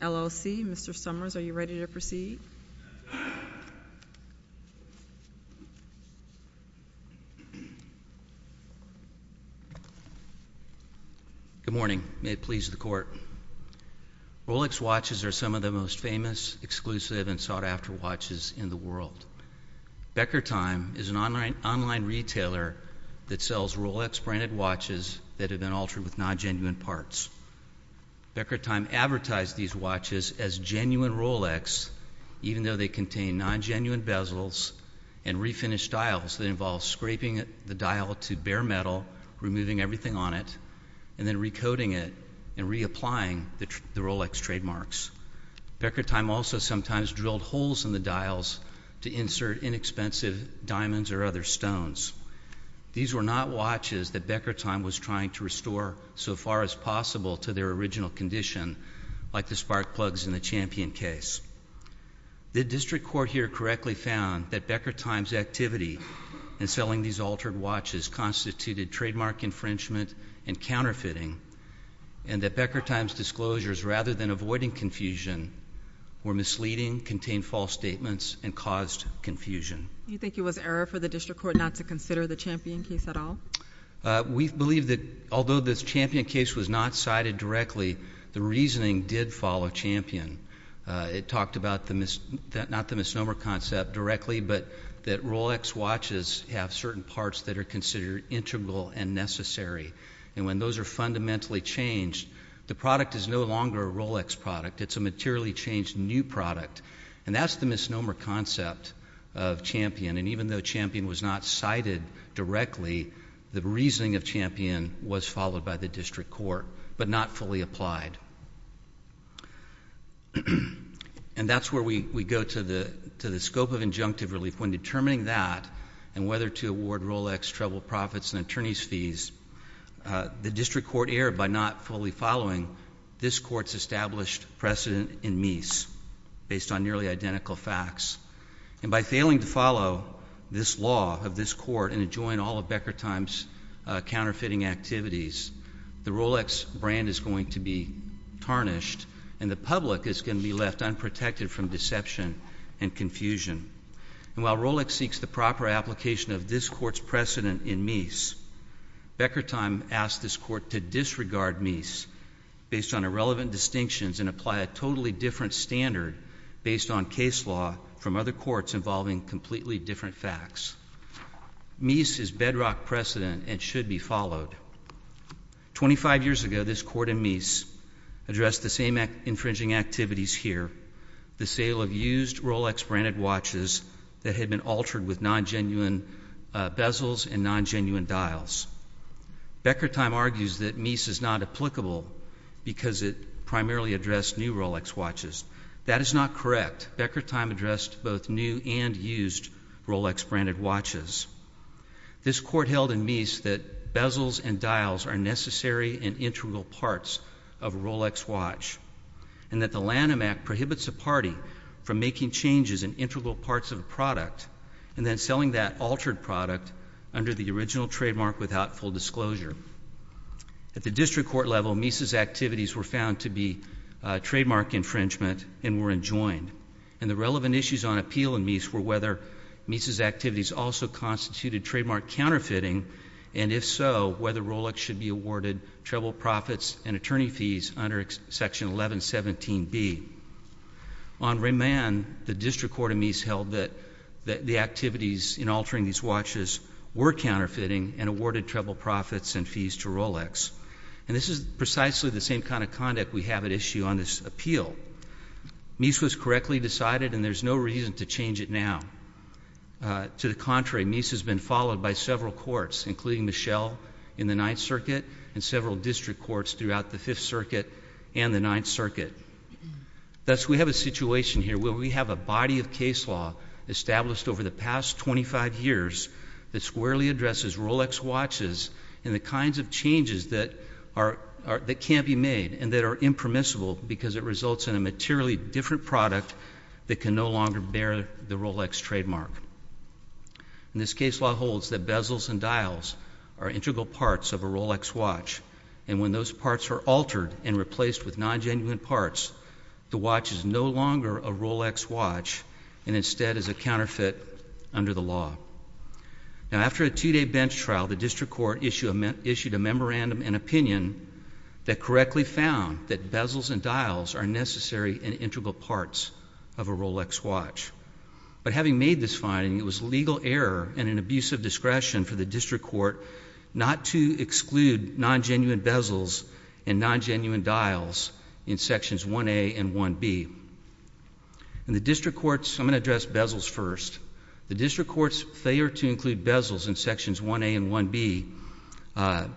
LLC. Mr. Summers, are you ready to proceed? Good morning. May it please the court. Rolex watches are some of the most famous, exclusive, and sought-after watches in the world. Beckertime is an online retailer that sells Rolex-branded watches that have been altered with non-genuine parts. Beckertime advertised these watches as genuine Rolex, even though they contain non-genuine bezels and refinished dials that remove everything on it, and then re-coating it and re-applying the Rolex trademarks. Beckertime also sometimes drilled holes in the dials to insert inexpensive diamonds or other stones. These were not watches that Beckertime was trying to restore so far as possible to their original condition, like the spark plugs in the Champion case. The district court here correctly found that Beckertime's activity in selling these altered watches constituted trademark infringement and counterfeiting, and that Beckertime's disclosures, rather than avoiding confusion, were misleading, contained false statements, and caused confusion. You think it was error for the district court not to consider the Champion case at all? We believe that although the Champion case was not cited directly, the reasoning did follow Champion. It talked about the misnomer concept directly, but that Rolex watches have certain parts that are considered integral and necessary, and when those are fundamentally changed, the product is no longer a Rolex product. It's a materially changed new product, and that's the misnomer concept of Champion, and even though Champion was not cited directly, the reasoning of Champion was followed by the district court, but not fully applied. And that's where we go to the scope of injunctive relief. When determining that, and whether to award Rolex treble profits and attorney's fees, the district court erred by not fully following this court's established precedent in Meese, based on nearly identical facts. And by failing to follow this law of this court and adjoin all of Beckertime's counterfeiting activities, the Rolex brand is going to be tarnished, and the public is going to be left unprotected from deception and confusion. And while Rolex seeks the proper application of this court's precedent in Meese, Beckertime asked this court to disregard Meese based on irrelevant distinctions and apply a totally different standard based on case law from other courts involving completely different facts. Meese is bedrock precedent and should be followed. Twenty-five years ago, this court in Meese addressed the same infringing activities here, the sale of used Rolex branded watches that had been altered with non-genuine bezels and non-genuine dials. Beckertime argues that Meese is not applicable because it primarily addressed new Rolex watches. That is not correct. Beckertime addressed both new and used Rolex branded watches. This court held in Meese that bezels and dials are necessary and integral parts of a Rolex watch, and that the Lanham Act prohibits a party from making changes in integral parts of a product and then selling that altered product under the original trademark without full disclosure. At the district court level, Meese's activities were found to be trademark infringement and were enjoined. And the relevant issues on appeal in Meese were whether Meese's activities also constituted trademark counterfeiting, and if so, whether Rolex should be awarded treble profits and attorney fees under Section 1117B. On remand, the district court in Meese held that the activities in altering these watches were counterfeiting and awarded treble profits and fees to Rolex. And this is precisely the same kind of conduct we have at issue on this appeal. Meese was correctly decided, and there's no reason to change it now. To the contrary, Meese has been followed by several courts, including Michelle, in the Ninth Circuit, and several district courts throughout the Fifth Circuit and the Ninth Circuit. Thus, we have a situation here where we have a body of case law established over the past 25 years that squarely addresses Rolex watches and the kinds of changes that can't be made and that are impermissible because it results in a materially different product that can no longer bear the Rolex trademark. And this case law holds that bezels and dials are integral parts of a Rolex watch, and when those parts are altered and replaced with non-genuine parts, the watch is no longer a Rolex watch and instead is a counterfeit under the law. Now, after a two-day bench trial, the district court issued a memorandum and opinion that correctly found that bezels and dials are necessary and integral parts of a Rolex watch. But having made this finding, it was legal error and an abuse of discretion for the district court not to exclude non-genuine bezels and non-genuine dials in Sections 1A and 1B. And the district courts—I'm going to address bezels first. The district court's failure to include bezels in Sections 1A and 1B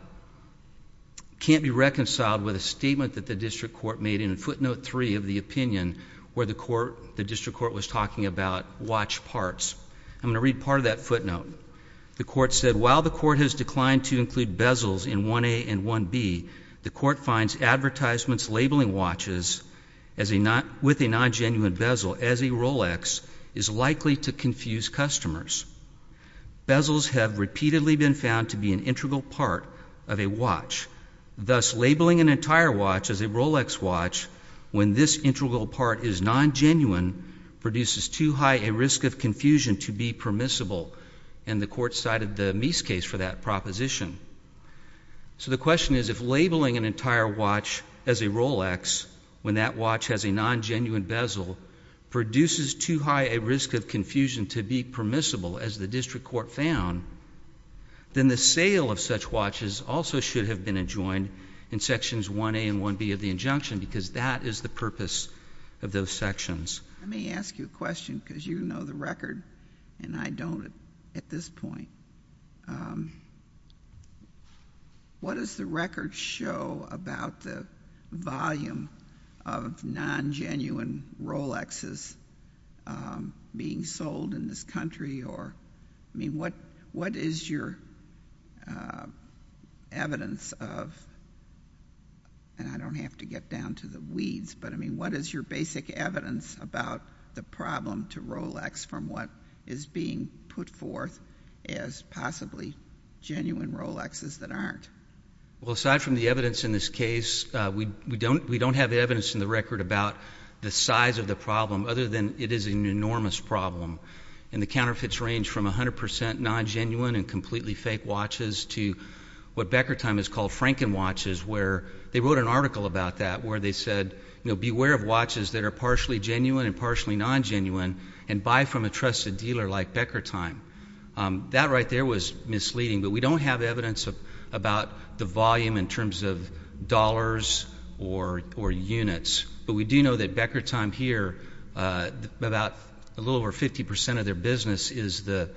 can't be reconciled with a statement that the district court made in footnote three of the opinion where the district court was talking about watch parts. I'm going to read part of that footnote. The court said, while the court has declined to include bezels in 1A and 1B, the court finds advertisements labeling watches with a non-genuine bezel as a Rolex is likely to confuse customers. Bezels have repeatedly been found to be an integral part of a watch. Thus, labeling an entire watch as a Rolex watch when this integral part is non-genuine produces too high a risk of confusion to be permissible. And the court cited the Meese case for that proposition. So the question is, if labeling an entire watch as a Rolex when that watch has a non-genuine bezel produces too high a risk of confusion to be permissible, as the district court found, then the sale of such watches also should have been adjoined in Sections 1A and 1B of the injunction because that is the purpose of those sections. Let me ask you a question because you know the record and I don't at this point. What does the record show about the volume of non-genuine Rolexes being sold in this country or, I mean, what is your evidence of, and I don't have to get down to the weeds, but I mean, what is your basic evidence about the problem to Rolex from what is being put forth as possibly genuine Rolexes that aren't? Well, aside from the evidence in this case, we don't have evidence in the record about the size of the problem other than it is an enormous problem and the counterfeits range from 100% non-genuine and completely fake watches to what Becker Time has called Frankenwatches where they wrote an article about that where they said, you know, beware of watches that are partially genuine and partially non-genuine and buy from a trusted dealer like Becker Time. That right there was misleading, but we don't have evidence about the volume in terms of dollars or units, but we do know that Becker Time here, about a little over 50% of their business is the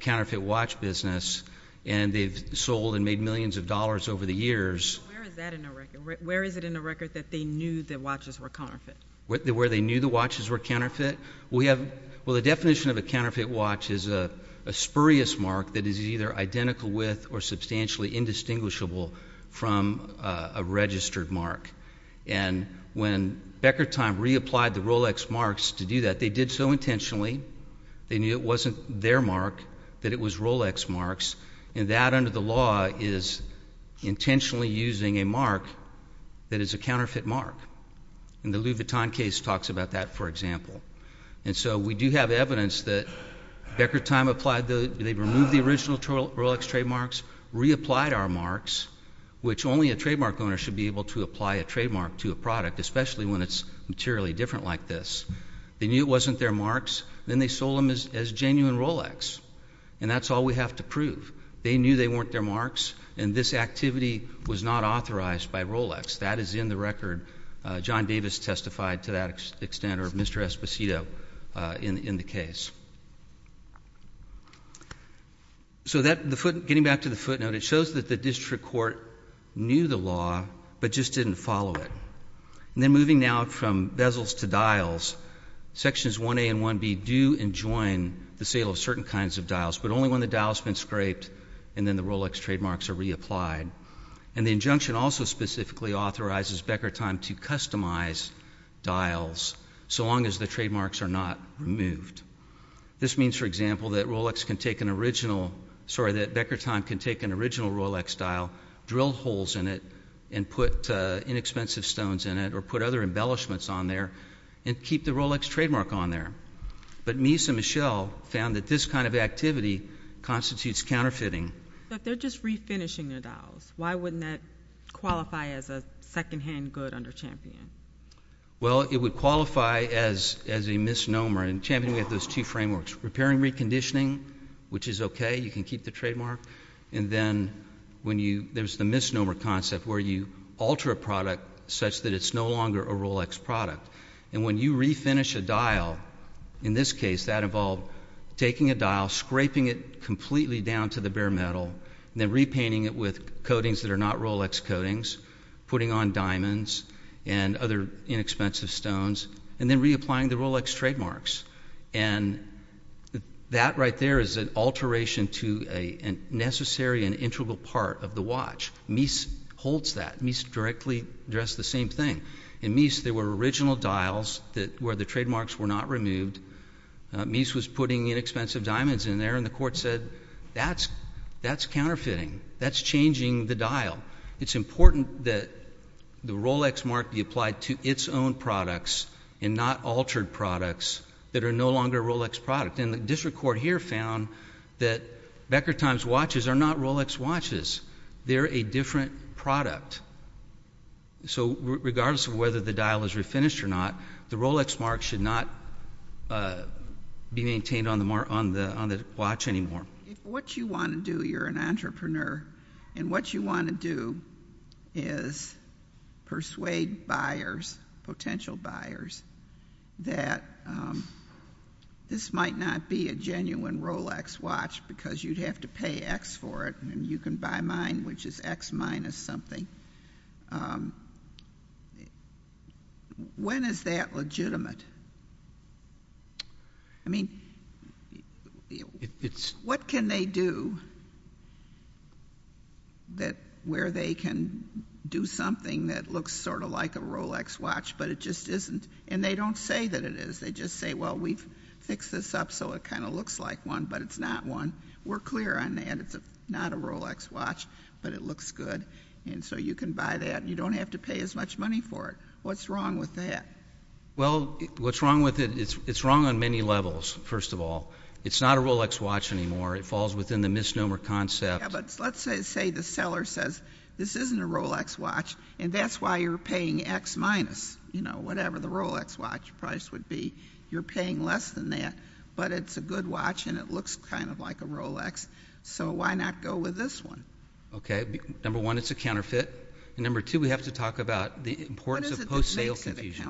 counterfeit watch business and they've sold and made millions of dollars over the years. Where is that in the record? Where is it in the record that they knew that watches were counterfeit? Where they knew the watches were counterfeit? Well, the definition of a counterfeit watch is a spurious mark that is either identical with or substantially indistinguishable from a registered mark. And when Becker Time reapplied the Rolex marks to do that, they did so intentionally, they knew it wasn't their mark, that it was Rolex marks, and that under the law is intentionally using a mark that is a counterfeit mark. And the Louis Vuitton case talks about that, for example. And so we do have evidence that Becker Time applied the, they removed the original Rolex trademarks, reapplied our marks, which only a trademark owner should be able to apply a trademark to a product, especially when it's materially different like this. They knew it wasn't their marks, then they sold them as genuine Rolex. And that's all we have to prove. They knew they weren't their marks, and this activity was not authorized by Rolex. That is in the record. John Davis testified to that extent, or Mr. Esposito in the case. So that, the foot, getting back to the footnote, it shows that the district court knew the law, but just didn't follow it. And then moving now from bezels to dials, Sections 1A and 1B do enjoin the sale of certain kinds of dials, but only when the dial's been scraped and then the Rolex trademarks are reapplied. And the injunction also specifically authorizes Becker Time to customize dials, so long as the trademarks are not removed. This means, for example, that Rolex can take an original, sorry, that Becker Time can take an original Rolex dial, drill holes in it, and put inexpensive stones in it, or put other embellishments on there, and keep the Rolex trademark on there. But Mies and Michelle found that this kind of activity constitutes counterfeiting. But they're just refinishing their dials. Why wouldn't that qualify as a secondhand good under Champion? Well, it would qualify as a misnomer. In Champion, we have those two frameworks. Repairing reconditioning, which is okay, you can keep the trademark. And then when you, there's the misnomer concept, where you alter a product such that it's no longer a Rolex product. And when you refinish a dial, in this case, that involved taking a dial, scraping it completely down to the coatings that are not Rolex coatings, putting on diamonds, and other inexpensive stones, and then reapplying the Rolex trademarks. And that right there is an alteration to a necessary and integral part of the watch. Mies holds that. Mies directly addressed the same thing. In Mies, there were original dials where the trademarks were not removed. Mies was putting inexpensive diamonds in there, and the court said, that's counterfeiting. That's changing the dial. It's important that the Rolex mark be applied to its own products and not altered products that are no longer a Rolex product. And the district court here found that Becker Times watches are not Rolex watches. They're a different product. So regardless of whether the dial is refinished or not, the Rolex mark should not be maintained on the watch anymore. If what you want to do, you're an entrepreneur, and what you want to do is persuade buyers, potential buyers, that this might not be a genuine Rolex watch because you'd have to pay X for it, and you can buy mine, which is X minus something. When is that legitimate? I mean, when is that legitimate? What can they do where they can do something that looks sort of like a Rolex watch, but it just isn't? And they don't say that it is. They just say, well, we've fixed this up so it kind of looks like one, but it's not one. We're clear on that. It's not a Rolex watch, but it looks good, and so you can buy that. You don't have to pay as much money for it. What's wrong with that? Well, what's wrong with it, it's wrong on many levels, first of all. It's not a Rolex watch anymore. It falls within the misnomer concept. Yeah, but let's say the seller says, this isn't a Rolex watch, and that's why you're paying X minus, whatever the Rolex watch price would be. You're paying less than that, but it's a good watch, and it looks kind of like a Rolex, so why not go with this one? Okay, number one, it's a counterfeit, and number two, we have to talk about the importance of post-sales infusion.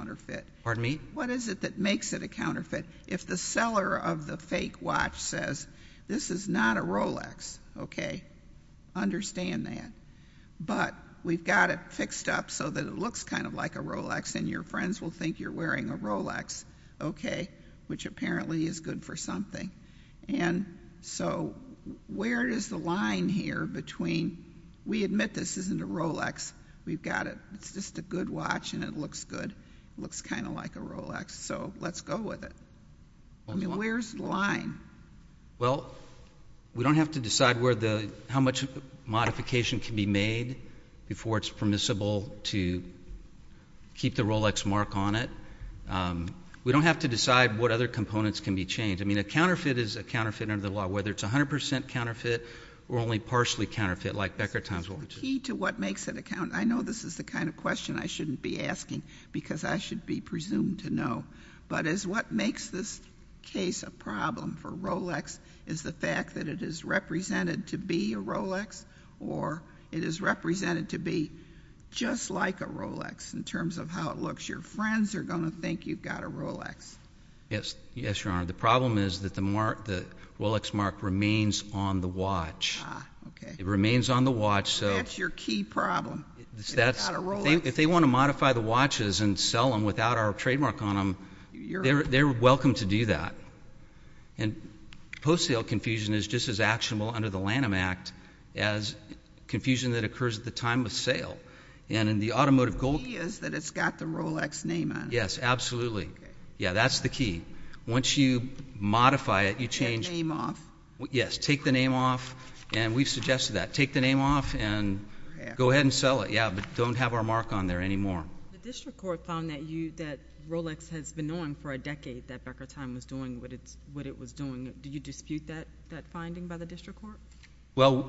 What is it that makes it a counterfeit? Pardon me? If the seller of the fake watch says, this is not a Rolex, okay, understand that, but we've got it fixed up so that it looks kind of like a Rolex, and your friends will think you're wearing a Rolex, okay, which apparently is good for something, and so where is the line here between, we admit this isn't a Rolex, we've got it, it's just a good watch, and it looks good, it looks kind of like a Rolex, so let's go with it. Where's the line? Well, we don't have to decide how much modification can be made before it's permissible to keep the Rolex mark on it. We don't have to decide what other components can be changed. I mean, a counterfeit is a counterfeit under the law, whether it's 100% counterfeit or only partially counterfeit, like Becker-Thompson watches. The key to what makes it a counterfeit, I know this is the kind of question I shouldn't be asking, because I should be presumed to know, but is what makes this case a problem for Rolex is the fact that it is represented to be a Rolex, or it is represented to be just like a Rolex in terms of how it looks. Your friends are going to think you've got a Rolex. Yes, Your Honor. The problem is that the Rolex mark remains on the watch. It remains on the watch. That's your key problem. If they want to modify the watches and sell them without our trademark on them, they're welcome to do that. Post-sale confusion is just as actionable under the Lanham Act as confusion that occurs at the time of sale. The key is that it's got the Rolex name on it. Yes, absolutely. Yeah, that's the key. Once you modify it, you change Take the name off. Yes, take the name off. And we've suggested that. Take the name off and go ahead and sell it. Yeah, but don't have our mark on there anymore. The district court found that Rolex has been known for a decade that Becker-Thompson was doing what it was doing. Do you dispute that finding by the district court? Well,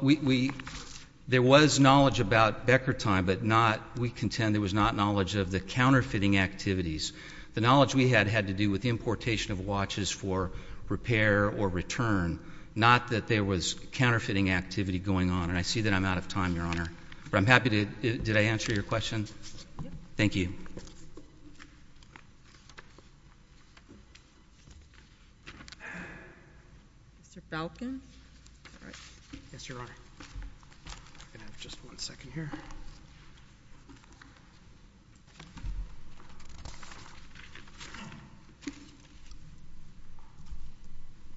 there was knowledge about Becker-Thompson, but we contend there was not knowledge of the counterfeiting activities. The knowledge we had had to do with the importation of watches for repair or return, not that there was counterfeiting activity going on. And I see that I'm out of time, Your Honor. Did I answer your question? Yes. Thank you. Mr. Belkin. Yes, Your Honor. I'm going to have just one second here.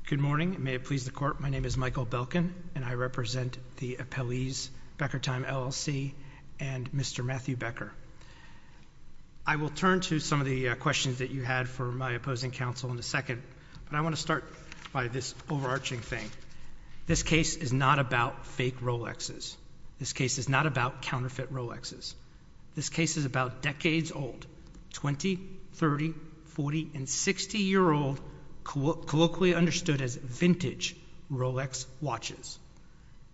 Good morning. May it please the court. My name is Michael Belkin, and I represent the appellees Becker-Thompson LLC and Mr. Matthew Becker. I will turn to some of the questions that you had for my opposing counsel in a second, but I want to start by this overarching thing. This case is not about fake Rolexes. This case is not about counterfeit Rolexes. This case is about decades old, 20, 30, 40, and 60-year-old colloquially understood as vintage Rolex watches.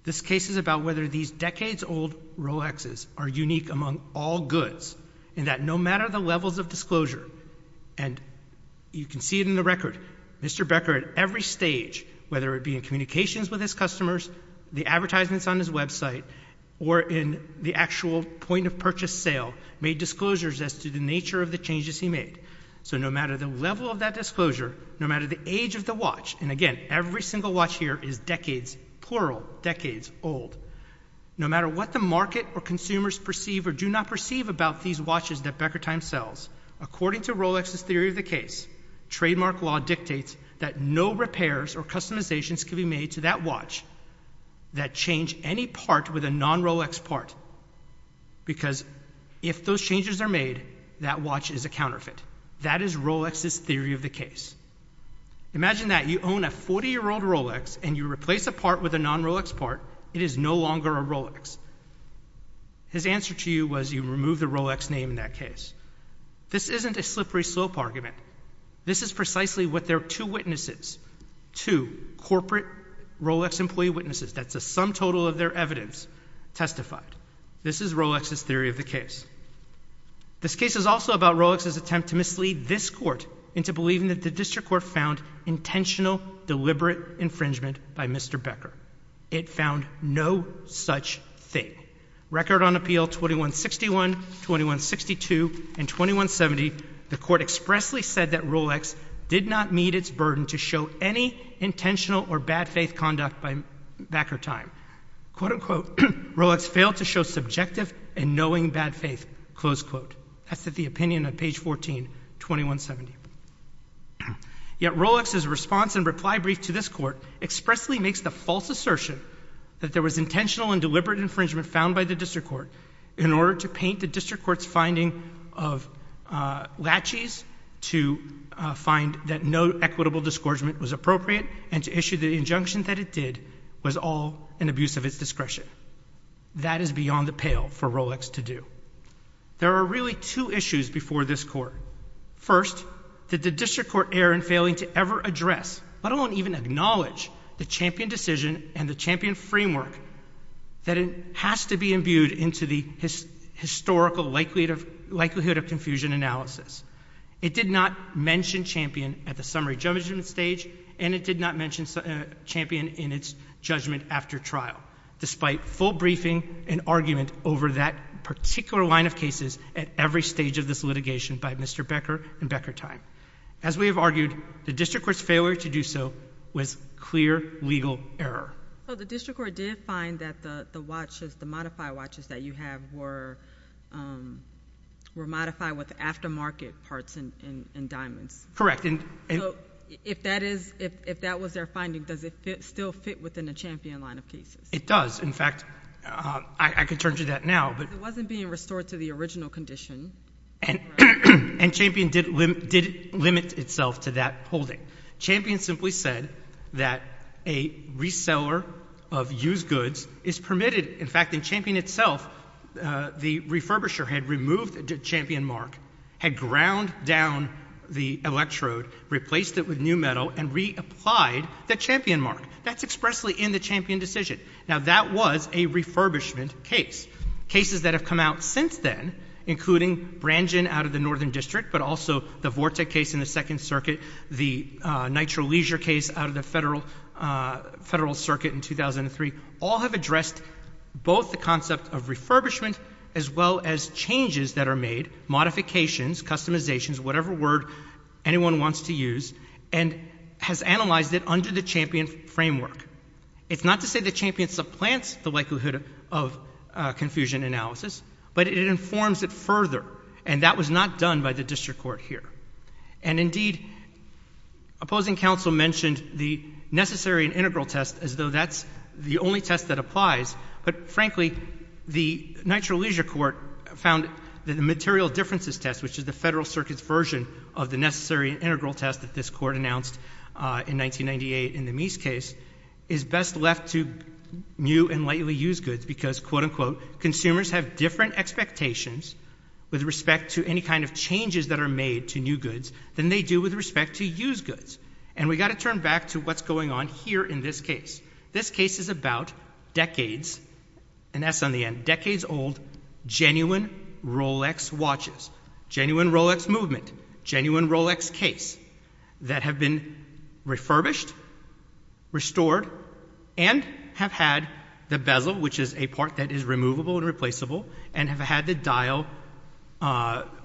This case is about whether these decades old Rolexes are unique among all goods, and that no matter the levels of disclosure, and you can see it in the record, Mr. Becker at every stage, whether it be in communications with his customers, the advertisements on his website, or in the actual point of purchase sale, made disclosures as to the nature of the changes he made. So no matter the level of that disclosure, no matter the watch, and again, every single watch here is decades, plural, decades old, no matter what the market or consumers perceive or do not perceive about these watches that Becker Time sells, according to Rolex's theory of the case, trademark law dictates that no repairs or customizations can be made to that watch that change any part with a non-Rolex part, because if those changes are made, that watch is a counterfeit. That is Rolex's theory of the case. Imagine that. You own a 40-year-old Rolex, and you replace a part with a non-Rolex part. It is no longer a Rolex. His answer to you was you remove the Rolex name in that case. This isn't a slippery slope argument. This is precisely what their two witnesses, two corporate Rolex employee witnesses, that's a sum total of their evidence, testified. This is Rolex's theory of the case. This case is also about Rolex's attempt to mislead this and that the district court found intentional, deliberate infringement by Mr. Becker. It found no such thing. Record on appeal 2161, 2162, and 2170, the court expressly said that Rolex did not meet its burden to show any intentional or bad faith conduct by Becker Time. Quote, unquote, Rolex failed to show subjective and knowing bad faith, close quote. That's the opinion on page 14, 2170. Yet Rolex's response and reply brief to this court expressly makes the false assertion that there was intentional and deliberate infringement found by the district court in order to paint the district court's finding of latches, to find that no equitable disgorgement was appropriate, and to issue the injunction that it did was all an abuse of its discretion. That is beyond the pale for Rolex to do. There are really two issues before this court. First, did the district court err in failing to ever address, let alone even acknowledge, the Champion decision and the Champion framework that it has to be imbued into the historical likelihood of confusion analysis. It did not mention Champion at the summary judgment stage, and it did not mention Champion in its judgment after trial, despite full briefing and argument over that particular line of cases at every stage of this litigation by Mr. Becker and Becker Time. As we have argued, the district court's failure to do so was clear legal error. So the district court did find that the watches, the modified watches that you have were modified with aftermarket parts and diamonds. Correct. So if that was their finding, does it still fit within the Champion line of cases? It does. In fact, I can turn to that now. It wasn't being restored to the original condition. And Champion did limit itself to that holding. Champion simply said that a reseller of used goods is permitted. In fact, in Champion itself, the refurbisher had removed the Champion mark, had ground down the electrode, replaced it with new metal, and reapplied the Champion mark. That's expressly in the Champion decision. Now that was a refurbishment case. Cases that have come out since then, including Brangen out of the Northern District, but also the Vortec case in the Second Circuit, the Nitro Leisure case out of the Federal Circuit in 2003, all have addressed both the concept of refurbishment as well as changes that are made, modifications, customizations, whatever word anyone wants to use, and has analyzed it under the Champion framework. It's not to say that Champion supplants the likelihood of confusion analysis, but it informs it further, and that was not done by the district court here. And indeed, opposing counsel mentioned the necessary and integral test as though that's the only test that applies, but frankly, the Nitro Leisure court found that the material differences test, which is the Federal Circuit's version of the necessary and integral test that this court announced in 1998 in the Meese case, is best left to new and lately used goods because, quote, unquote, consumers have different expectations with respect to any kind of changes that are made to new goods than they do with respect to used goods. And we've got to turn back to what's going on here in this case. This case is about decades, and that's on the end, decades old, genuine Rolex watches. Genuine Rolex movement. Genuine Rolex case that have been refurbished, restored, and have had the bezel, which is a part that is removable and replaceable, and have had the dial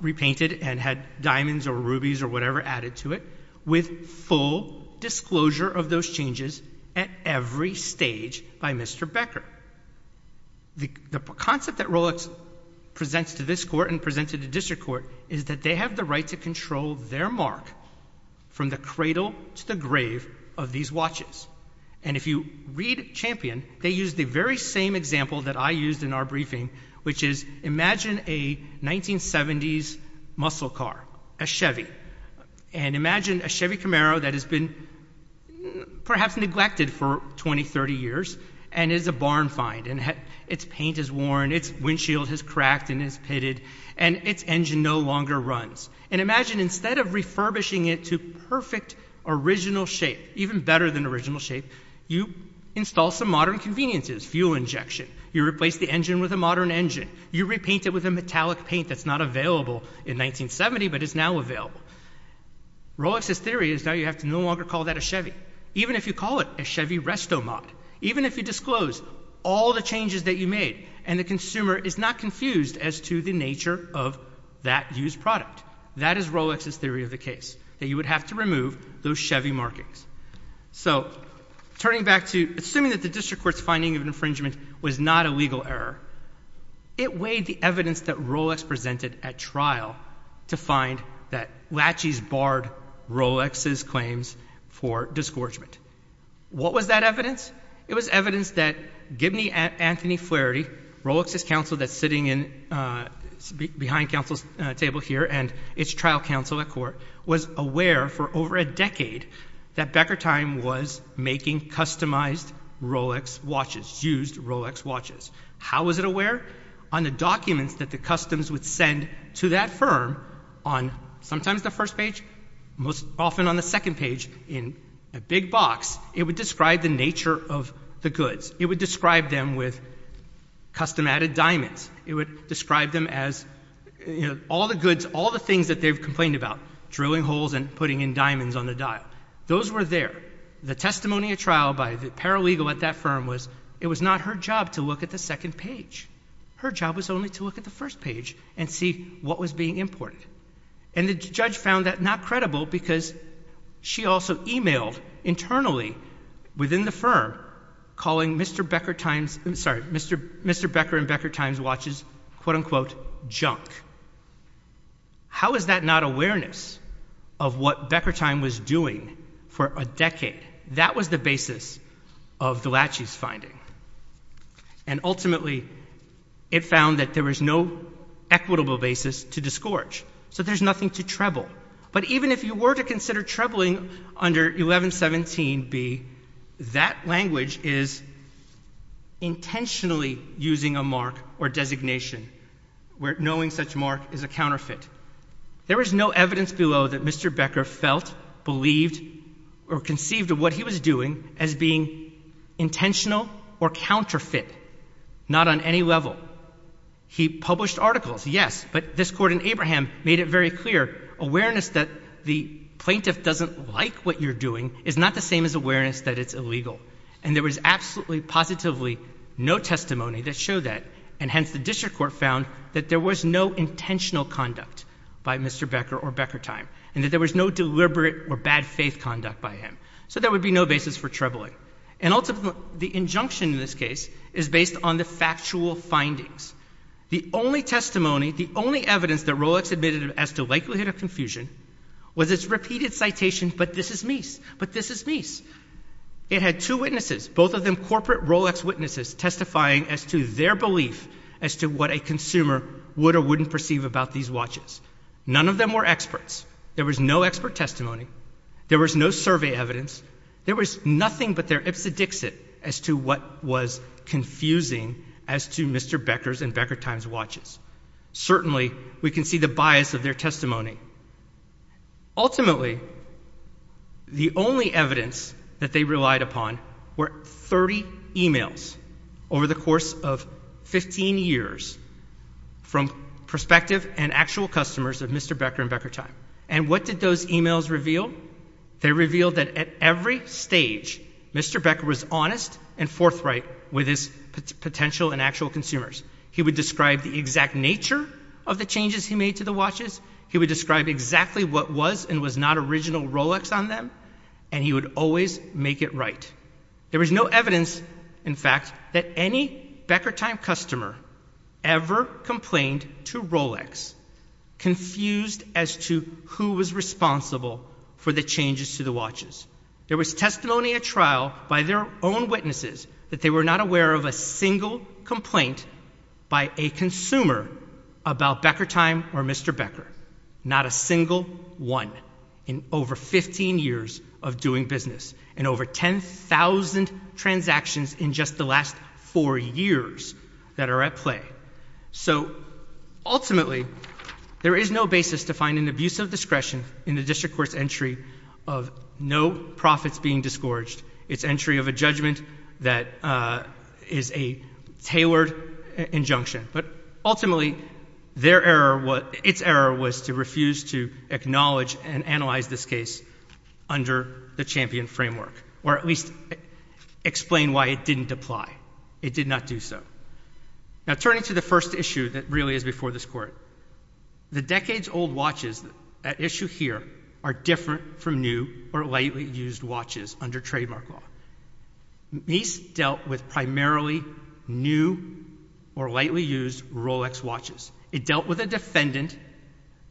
repainted and had diamonds or rubies or whatever added to it, with full disclosure of those changes at every stage by Mr. Becker. The concept that Rolex presents to this court and presents to the district court is that they have the right to control their mark from the cradle to the grave of these watches. And if you read Champion, they use the very same example that I used in our briefing, which is imagine a 1970s muscle car, a Chevy. And imagine a Chevy Camaro that has been perhaps neglected for 20, 30 years and is a barn find and its paint is worn, its windshield is cracked and is pitted, and its engine no longer runs. And imagine instead of refurbishing it to perfect original shape, even better than original shape, you install some modern conveniences, fuel injection. You replace the engine with a modern engine. You repaint it with a metallic paint that's not available in 1970, but is now available. Rolex's theory is now you have to no longer call that a Chevy, even if you call it a Chevy RestoMod, even if you disclose all the changes that you made and the consumer is not confused as to the nature of that used product. That is Rolex's theory of the case, that you would have to remove those Chevy markings. So, turning back to, assuming that the district court's finding of infringement was not a legal error, it weighed the evidence that Rolex presented at trial to find that latches barred Rolex's claims for disgorgement. What was that evidence? It was evidence that Gibney Anthony Flaherty, Rolex's counsel that's sitting behind counsel's chair, and its trial counsel at court, was aware for over a decade that Becker Time was making customized Rolex watches, used Rolex watches. How was it aware? On the documents that the customs would send to that firm on sometimes the first page, most often on the second page in a big box, it would describe the nature of the goods. It would describe them with custom added diamonds. It would describe them as, you know, all the goods, all the things that they've complained about, drilling holes and putting in diamonds on the dial. Those were there. The testimony at trial by the paralegal at that firm was, it was not her job to look at the second page. Her job was only to look at the first page and see what was being imported. And the judge found that not credible because she also emailed internally within the firm calling Mr. Becker and Becker Time's watches, quote unquote, junk. How is that not awareness of what Becker Time was doing for a decade? That was the basis of the Lachey's finding. And ultimately, it found that there was no equitable basis to disgorge. So there's nothing to treble. But even if you were to consider trebling under 1117B, that language is intentionally using a mark or designation where knowing such mark is a counterfeit. There is no evidence below that Mr. Becker felt, believed, or conceived of what he was doing as being intentional or counterfeit, not on any level. He published articles, yes. But this court in Abraham made it very clear, awareness that the plaintiff doesn't like what you're doing is not the same as awareness that it's illegal. And there was absolutely, positively no testimony that showed that. And hence, the district court found that there was no intentional conduct by Mr. Becker or Becker Time. And that there was no deliberate or bad faith conduct by him. So there would be no basis for trebling. And ultimately, the injunction in this case is based on the factual findings. The only testimony, the only evidence that Rolex admitted as to likelihood of confusion was its repeated citation, but this is Mies, but this is Mies. It had two witnesses, both of them corporate Rolex witnesses, testifying as to their belief as to what a consumer would or wouldn't perceive about these watches. None of them were experts. There was no expert testimony. There was no survey evidence. There was nothing but their ipsedixit as to what was confusing as to Mr. Becker's and Becker Time's watches. Certainly, we can see the bias of their testimony. Ultimately, the only evidence that they relied upon were 30 emails over the course of 15 years from prospective and actual customers of Mr. Becker and Becker Time. And what did those emails reveal? They revealed that at every stage, Mr. Becker was honest and forthright with his potential and actual consumers. He would describe the exact nature of the changes he made to the watches. He would describe exactly what was and was not original Rolex on them, and he would always make it right. There was no evidence, in fact, that any Becker Time customer ever complained to Rolex confused as to who was responsible for the changes to the watches. There was testimony at trial by their own witnesses that they were not aware of a single complaint by a consumer about Becker Time or Mr. Becker. Not a single one in over 15 years of doing business and over 10,000 transactions in just the last four years that are at play. So, ultimately, there is no basis to find an abuse of discretion in the district court's entry of no profits being disgorged. It's entry of a judgment that is a tailored injunction. But ultimately, their error, its error was to refuse to acknowledge and analyze this case under the champion framework, or at least explain why it didn't apply. It did not do so. Now, turning to the first issue that really is before this court, the decades-old watches at issue here are different from new or lightly used watches under trademark law. Mies dealt with primarily new or lightly used Rolex watches. It dealt with a defendant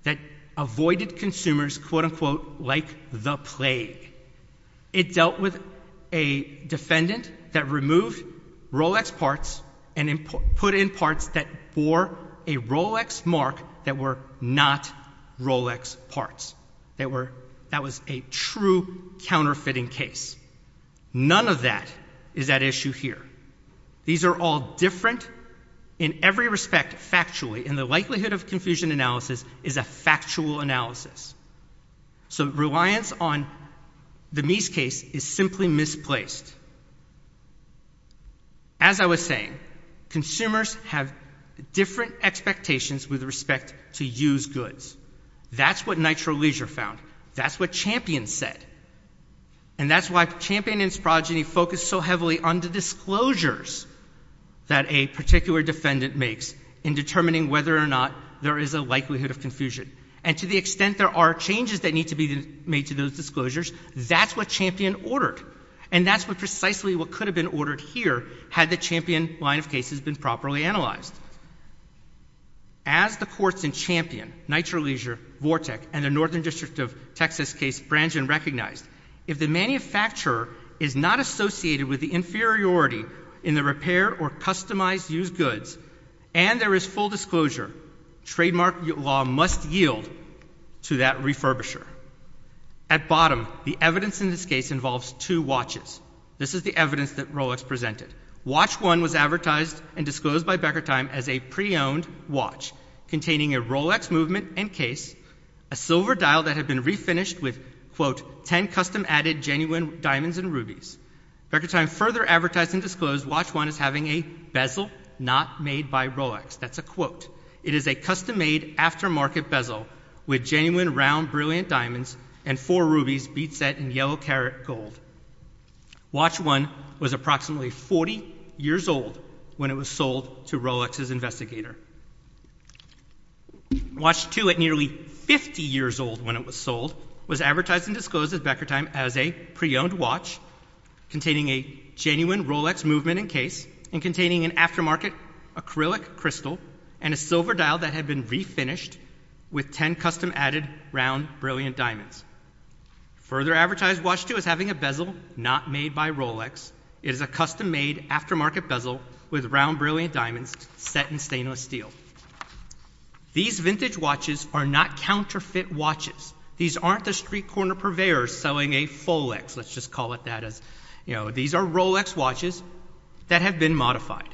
that avoided consumers, quote-unquote, like the plague. It dealt with a defendant that removed Rolex parts and put in parts that bore a Rolex mark that were not Rolex parts. That was a true counterfeiting case. None of that is at issue here. These are all different in every respect, factually, and the likelihood of confusion analysis is a factual analysis. So, reliance on the Mies case is simply misplaced. As I was saying, consumers have different expectations with respect to used goods. That's what Nitro Leisure found. That's what Champion said. And that's why Champion and Sprogeny focused so heavily on the disclosures that a particular defendant makes in determining whether or not there is a likelihood of confusion. And to the extent there are changes that need to be made to those disclosures, that's what Champion ordered. And that's precisely what could have been ordered here had the Champion line of cases been properly analyzed. As the courts in Champion, Nitro Leisure, Vortec, and the Northern District of Texas case Brangen recognized, if the manufacturer is not associated with the inferiority in the repair or customized used goods, and there is full disclosure, trademark law must yield to that refurbisher. At bottom, the evidence in this case involves two watches. This is the evidence that Rolex presented. Watch one was advertised and disclosed by Becker-Thyme as a pre-owned watch, containing a Rolex movement and case, a silver dial that had been refinished with, quote, 10 custom added genuine diamonds and rubies. Becker-Thyme further advertised and disclosed watch one as having a bezel not made by Rolex. That's a quote. It is a custom made aftermarket bezel with genuine round brilliant diamonds and four rubies bead set in yellow carrot gold. Watch one was approximately 40 years old when it was sold to Rolex's investigator. Watch two at nearly 50 years old when it was sold was advertised and disclosed at Becker-Thyme as a pre-owned watch, containing a genuine Rolex movement and case, and containing an aftermarket acrylic crystal and a silver dial that had been refinished with 10 custom added round brilliant diamonds. Further advertised watch two as having a bezel not made by Rolex. It is a custom made aftermarket bezel with round brilliant diamonds set in stainless steel. These vintage watches are not counterfeit watches. These aren't the street corner purveyors selling a Folex. Let's just call it that as, you know, these are Rolex watches that have been modified.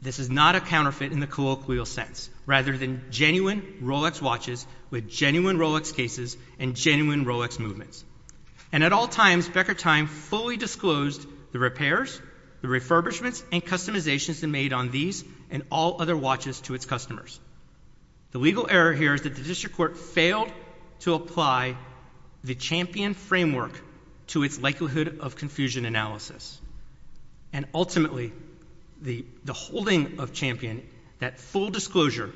This is not a counterfeit in the colloquial sense, rather than genuine Rolex watches with genuine Rolex cases and genuine Rolex movements. And at all times, Becker-Thyme fully disclosed the repairs, the refurbishments, and customizations made on these and all other watches to its customers. The legal error here is that the district court failed to apply the Champion framework to its likelihood of confusion analysis. And ultimately, the holding of Champion, that full disclosure,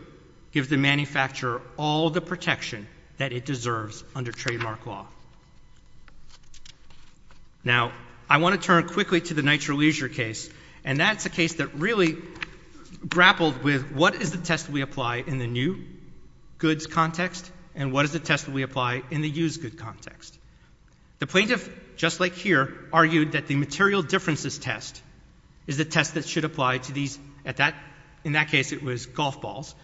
gives the manufacturer all the protection that it deserves under trademark law. Now, I want to turn quickly to the Nitro Leisure case, and that's a case that really grappled with what is the test we apply in the new goods context, and what is the test we apply in the used good context. The plaintiff, just like here, argued that the material differences test is the test that should apply to these, in that case it was golf balls,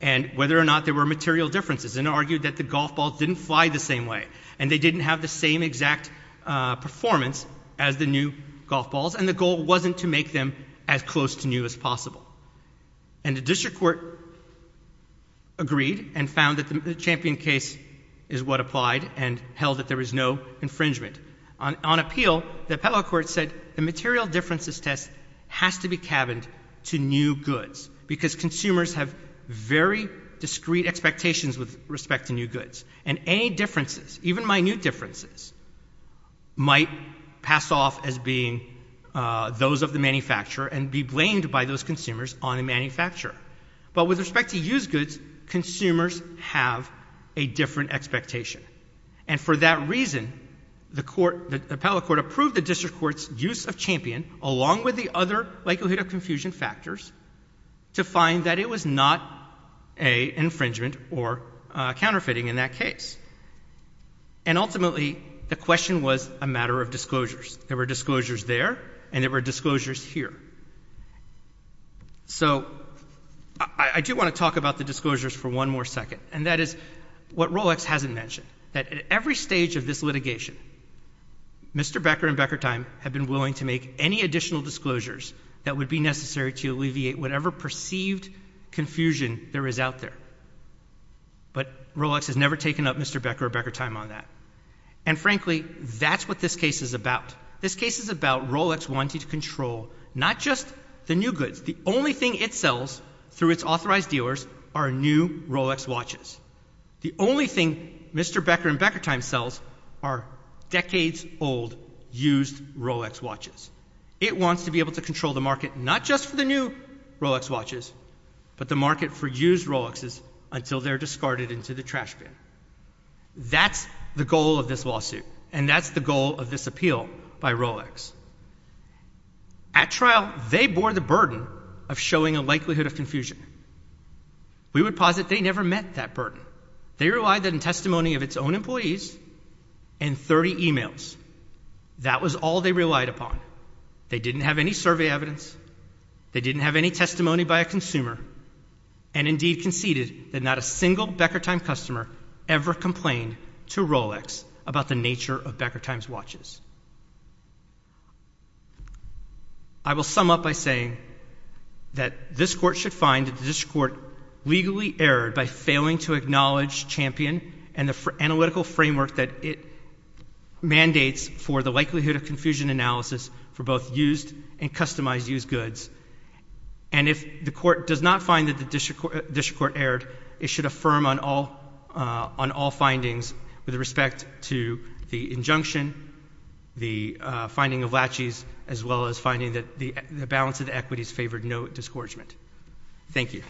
and whether or not there were material differences, and argued that the golf balls didn't fly the same way, and they didn't have the same exact performance as the new golf balls, and the goal wasn't to make them as close to new as possible. And the district court agreed, and found that the Champion case is what applied, and held that there was no infringement. On appeal, the appellate court said the material differences test has to be cabined to new goods, because consumers have very discreet expectations with respect to new goods, and any differences, even minute differences, might pass off as being those of the manufacturer, and be blamed by those consumers on the manufacturer. But with respect to used goods, consumers have a different expectation. And for that reason, the appellate court approved the district court's use of Champion, along with the other likelihood of confusion factors, to find that it was not an infringement or a counterfeiting in that case. And ultimately, the question was a matter of disclosures. There were disclosures there, and there were disclosures here. So I do want to talk about the disclosures for one more second, and that is what Rolex hasn't mentioned, that at every stage of this litigation, Mr. Becker and Becker Time have been willing to make any additional disclosures that would be necessary to alleviate whatever perceived confusion there is out there. But Rolex has never taken up Mr. Becker or Becker Time on that. And frankly, that's what this case is about. This case is about Rolex wanting to control not just the new goods. The only thing it sells, through its authorized dealers, are new Rolex watches. The only thing Mr. Becker and Becker Time sells are decades-old used Rolex watches. It wants to be able to control the market not just for the new Rolex watches, but the until they're discarded into the trash bin. That's the goal of this lawsuit, and that's the goal of this appeal by Rolex. At trial, they bore the burden of showing a likelihood of confusion. We would posit they never met that burden. They relied on testimony of its own employees and 30 emails. That was all they relied upon. They didn't have any survey evidence. They didn't have any testimony by a consumer, and indeed conceded that not a single Becker Time customer ever complained to Rolex about the nature of Becker Time's watches. I will sum up by saying that this Court should find that this Court legally erred by failing to acknowledge Champion and the analytical framework that it mandates for the likelihood of confusion analysis for both used and customized used goods. And if the Court does not find that the district court erred, it should affirm on all findings with respect to the injunction, the finding of latches, as well as finding that the balance of the equities favored no discouragement. Thank you.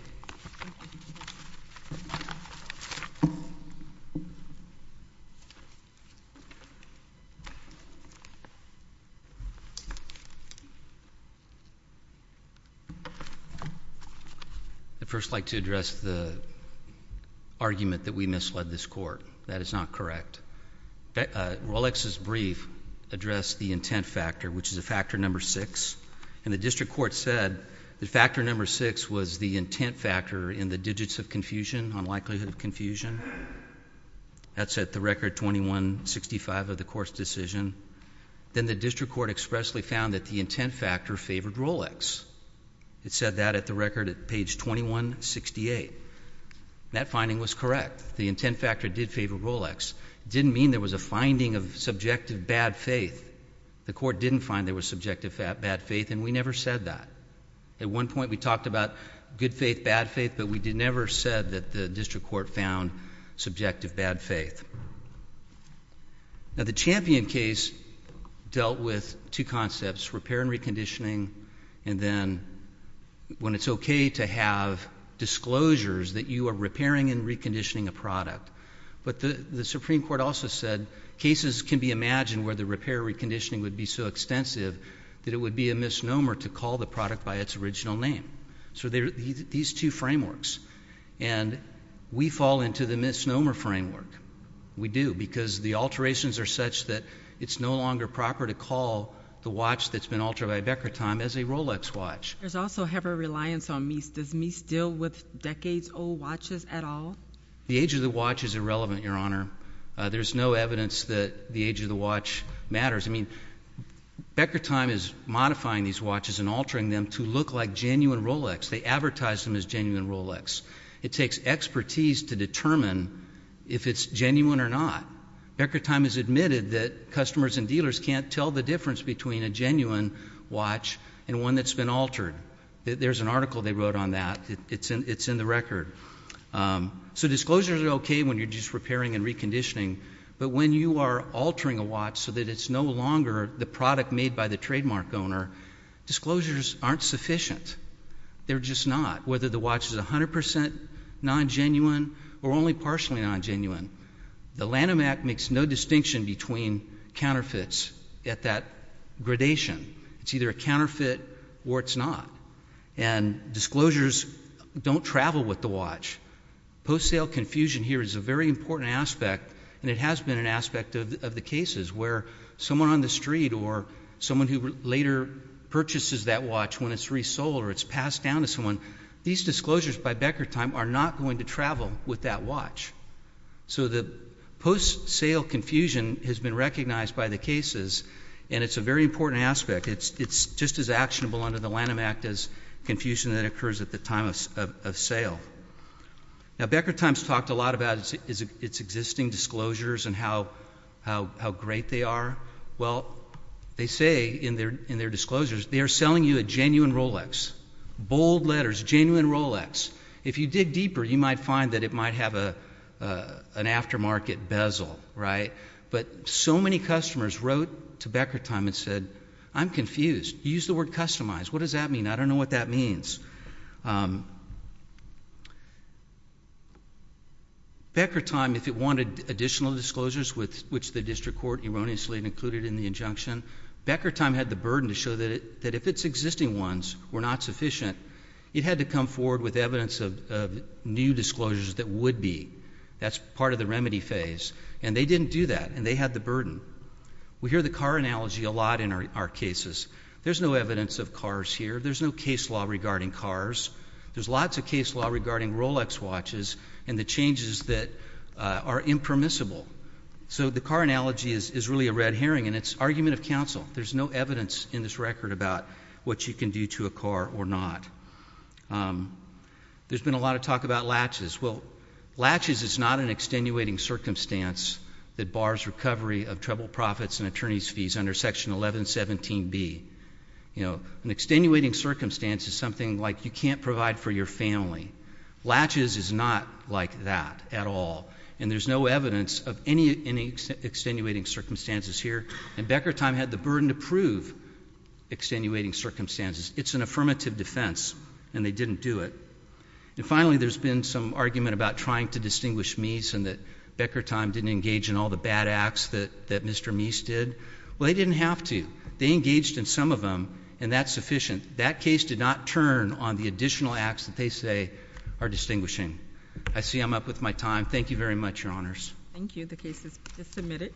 I'd first like to address the argument that we misled this Court. That is not correct. Rolex's brief addressed the intent factor, which is a factor number six, and the district court said that factor number six was the intent factor in the digits of confusion on likelihood of confusion. That's at the record 2165 of the Court's decision. Then the district court expressly found that the intent factor favored Rolex. It said that at the record at page 2168. That finding was correct. The intent factor did favor Rolex. It didn't mean there was a finding of subjective bad faith. The Court didn't find there was subjective bad faith, and we never said that. At one point, we talked about good faith, bad faith, but we never said that the district court found subjective bad faith. Now, the Champion case dealt with two concepts, repair and reconditioning, and then when it's okay to have disclosures that you are repairing and reconditioning a product, but the Supreme Court also said cases can be imagined where the repair and reconditioning would be so extensive that it would be a misnomer to call the product by its original name. So these two frameworks, and we fall into the misnomer framework. We do because the alterations are such that it's no longer proper to call the watch that's been altered by Becker-Thyme as a Rolex watch. There's also heavy reliance on Meese. Does Meese deal with decades-old watches at all? The age of the watch is irrelevant, Your Honor. There's no evidence that the age of the watch matters. I mean, Becker-Thyme is modifying these watches and altering them to look like genuine Rolex. They advertise them as genuine Rolex. It takes expertise to determine if it's genuine or not. Becker-Thyme has admitted that customers and dealers can't tell the difference between a genuine watch and one that's been altered. There's an article they wrote on that. It's in the record. So disclosures are okay when you're just repairing and reconditioning, but when you are altering the watch so that it's no longer the product made by the trademark owner, disclosures aren't sufficient. They're just not. Whether the watch is 100% non-genuine or only partially non-genuine, the Lanham Act makes no distinction between counterfeits at that gradation. It's either a counterfeit or it's not. And disclosures don't travel with the watch. Post-sale confusion here is a very important aspect, and it has been an aspect of the cases where someone on the street or someone who later purchases that watch when it's resold or it's passed down to someone, these disclosures by Becker-Thyme are not going to travel with that watch. So the post-sale confusion has been recognized by the cases, and it's a very important aspect. It's just as actionable under the Lanham Act as confusion that occurs at the time of sale. Now, Becker-Thyme's talked a lot about its existing disclosures and how great they are. Well, they say in their disclosures, they are selling you a genuine Rolex, bold letters, genuine Rolex. If you dig deeper, you might find that it might have an aftermarket bezel, right? But so many customers wrote to Becker-Thyme and said, I'm confused. You used the word customized. What does that mean? I don't know what that means. Becker-Thyme, if it wanted additional disclosures, which the district court erroneously included in the injunction, Becker-Thyme had the burden to show that if its existing ones were not sufficient, it had to come forward with evidence of new disclosures that would be. That's part of the remedy phase. And they didn't do that, and they had the burden. We hear the car analogy a lot in our cases. There's no evidence of cars here. There's no case law regarding cars. There's lots of case law regarding Rolex watches and the changes that are impermissible. So the car analogy is really a red herring, and it's argument of counsel. There's no evidence in this record about what you can do to a car or not. There's been a lot of talk about latches. Well, latches is not an extenuating circumstance that bars recovery of treble profits and attorney's fees under Section 1117B. You know, an extenuating circumstance is something like you can't provide for your family. Latches is not like that at all. And there's no evidence of any extenuating circumstances here. And Becker-Thyme had the burden to prove extenuating circumstances. It's an affirmative defense, and they didn't do it. And finally, there's been some argument about trying to distinguish Meese and that Becker-Thyme didn't engage in all the bad acts that Mr. Meese did. Well, they didn't have to. They engaged in some of them, and that's sufficient. That case did not turn on the additional acts that they say are distinguishing. I see I'm up with my time. Thank you very much, Your Honors. Thank you. The case is submitted.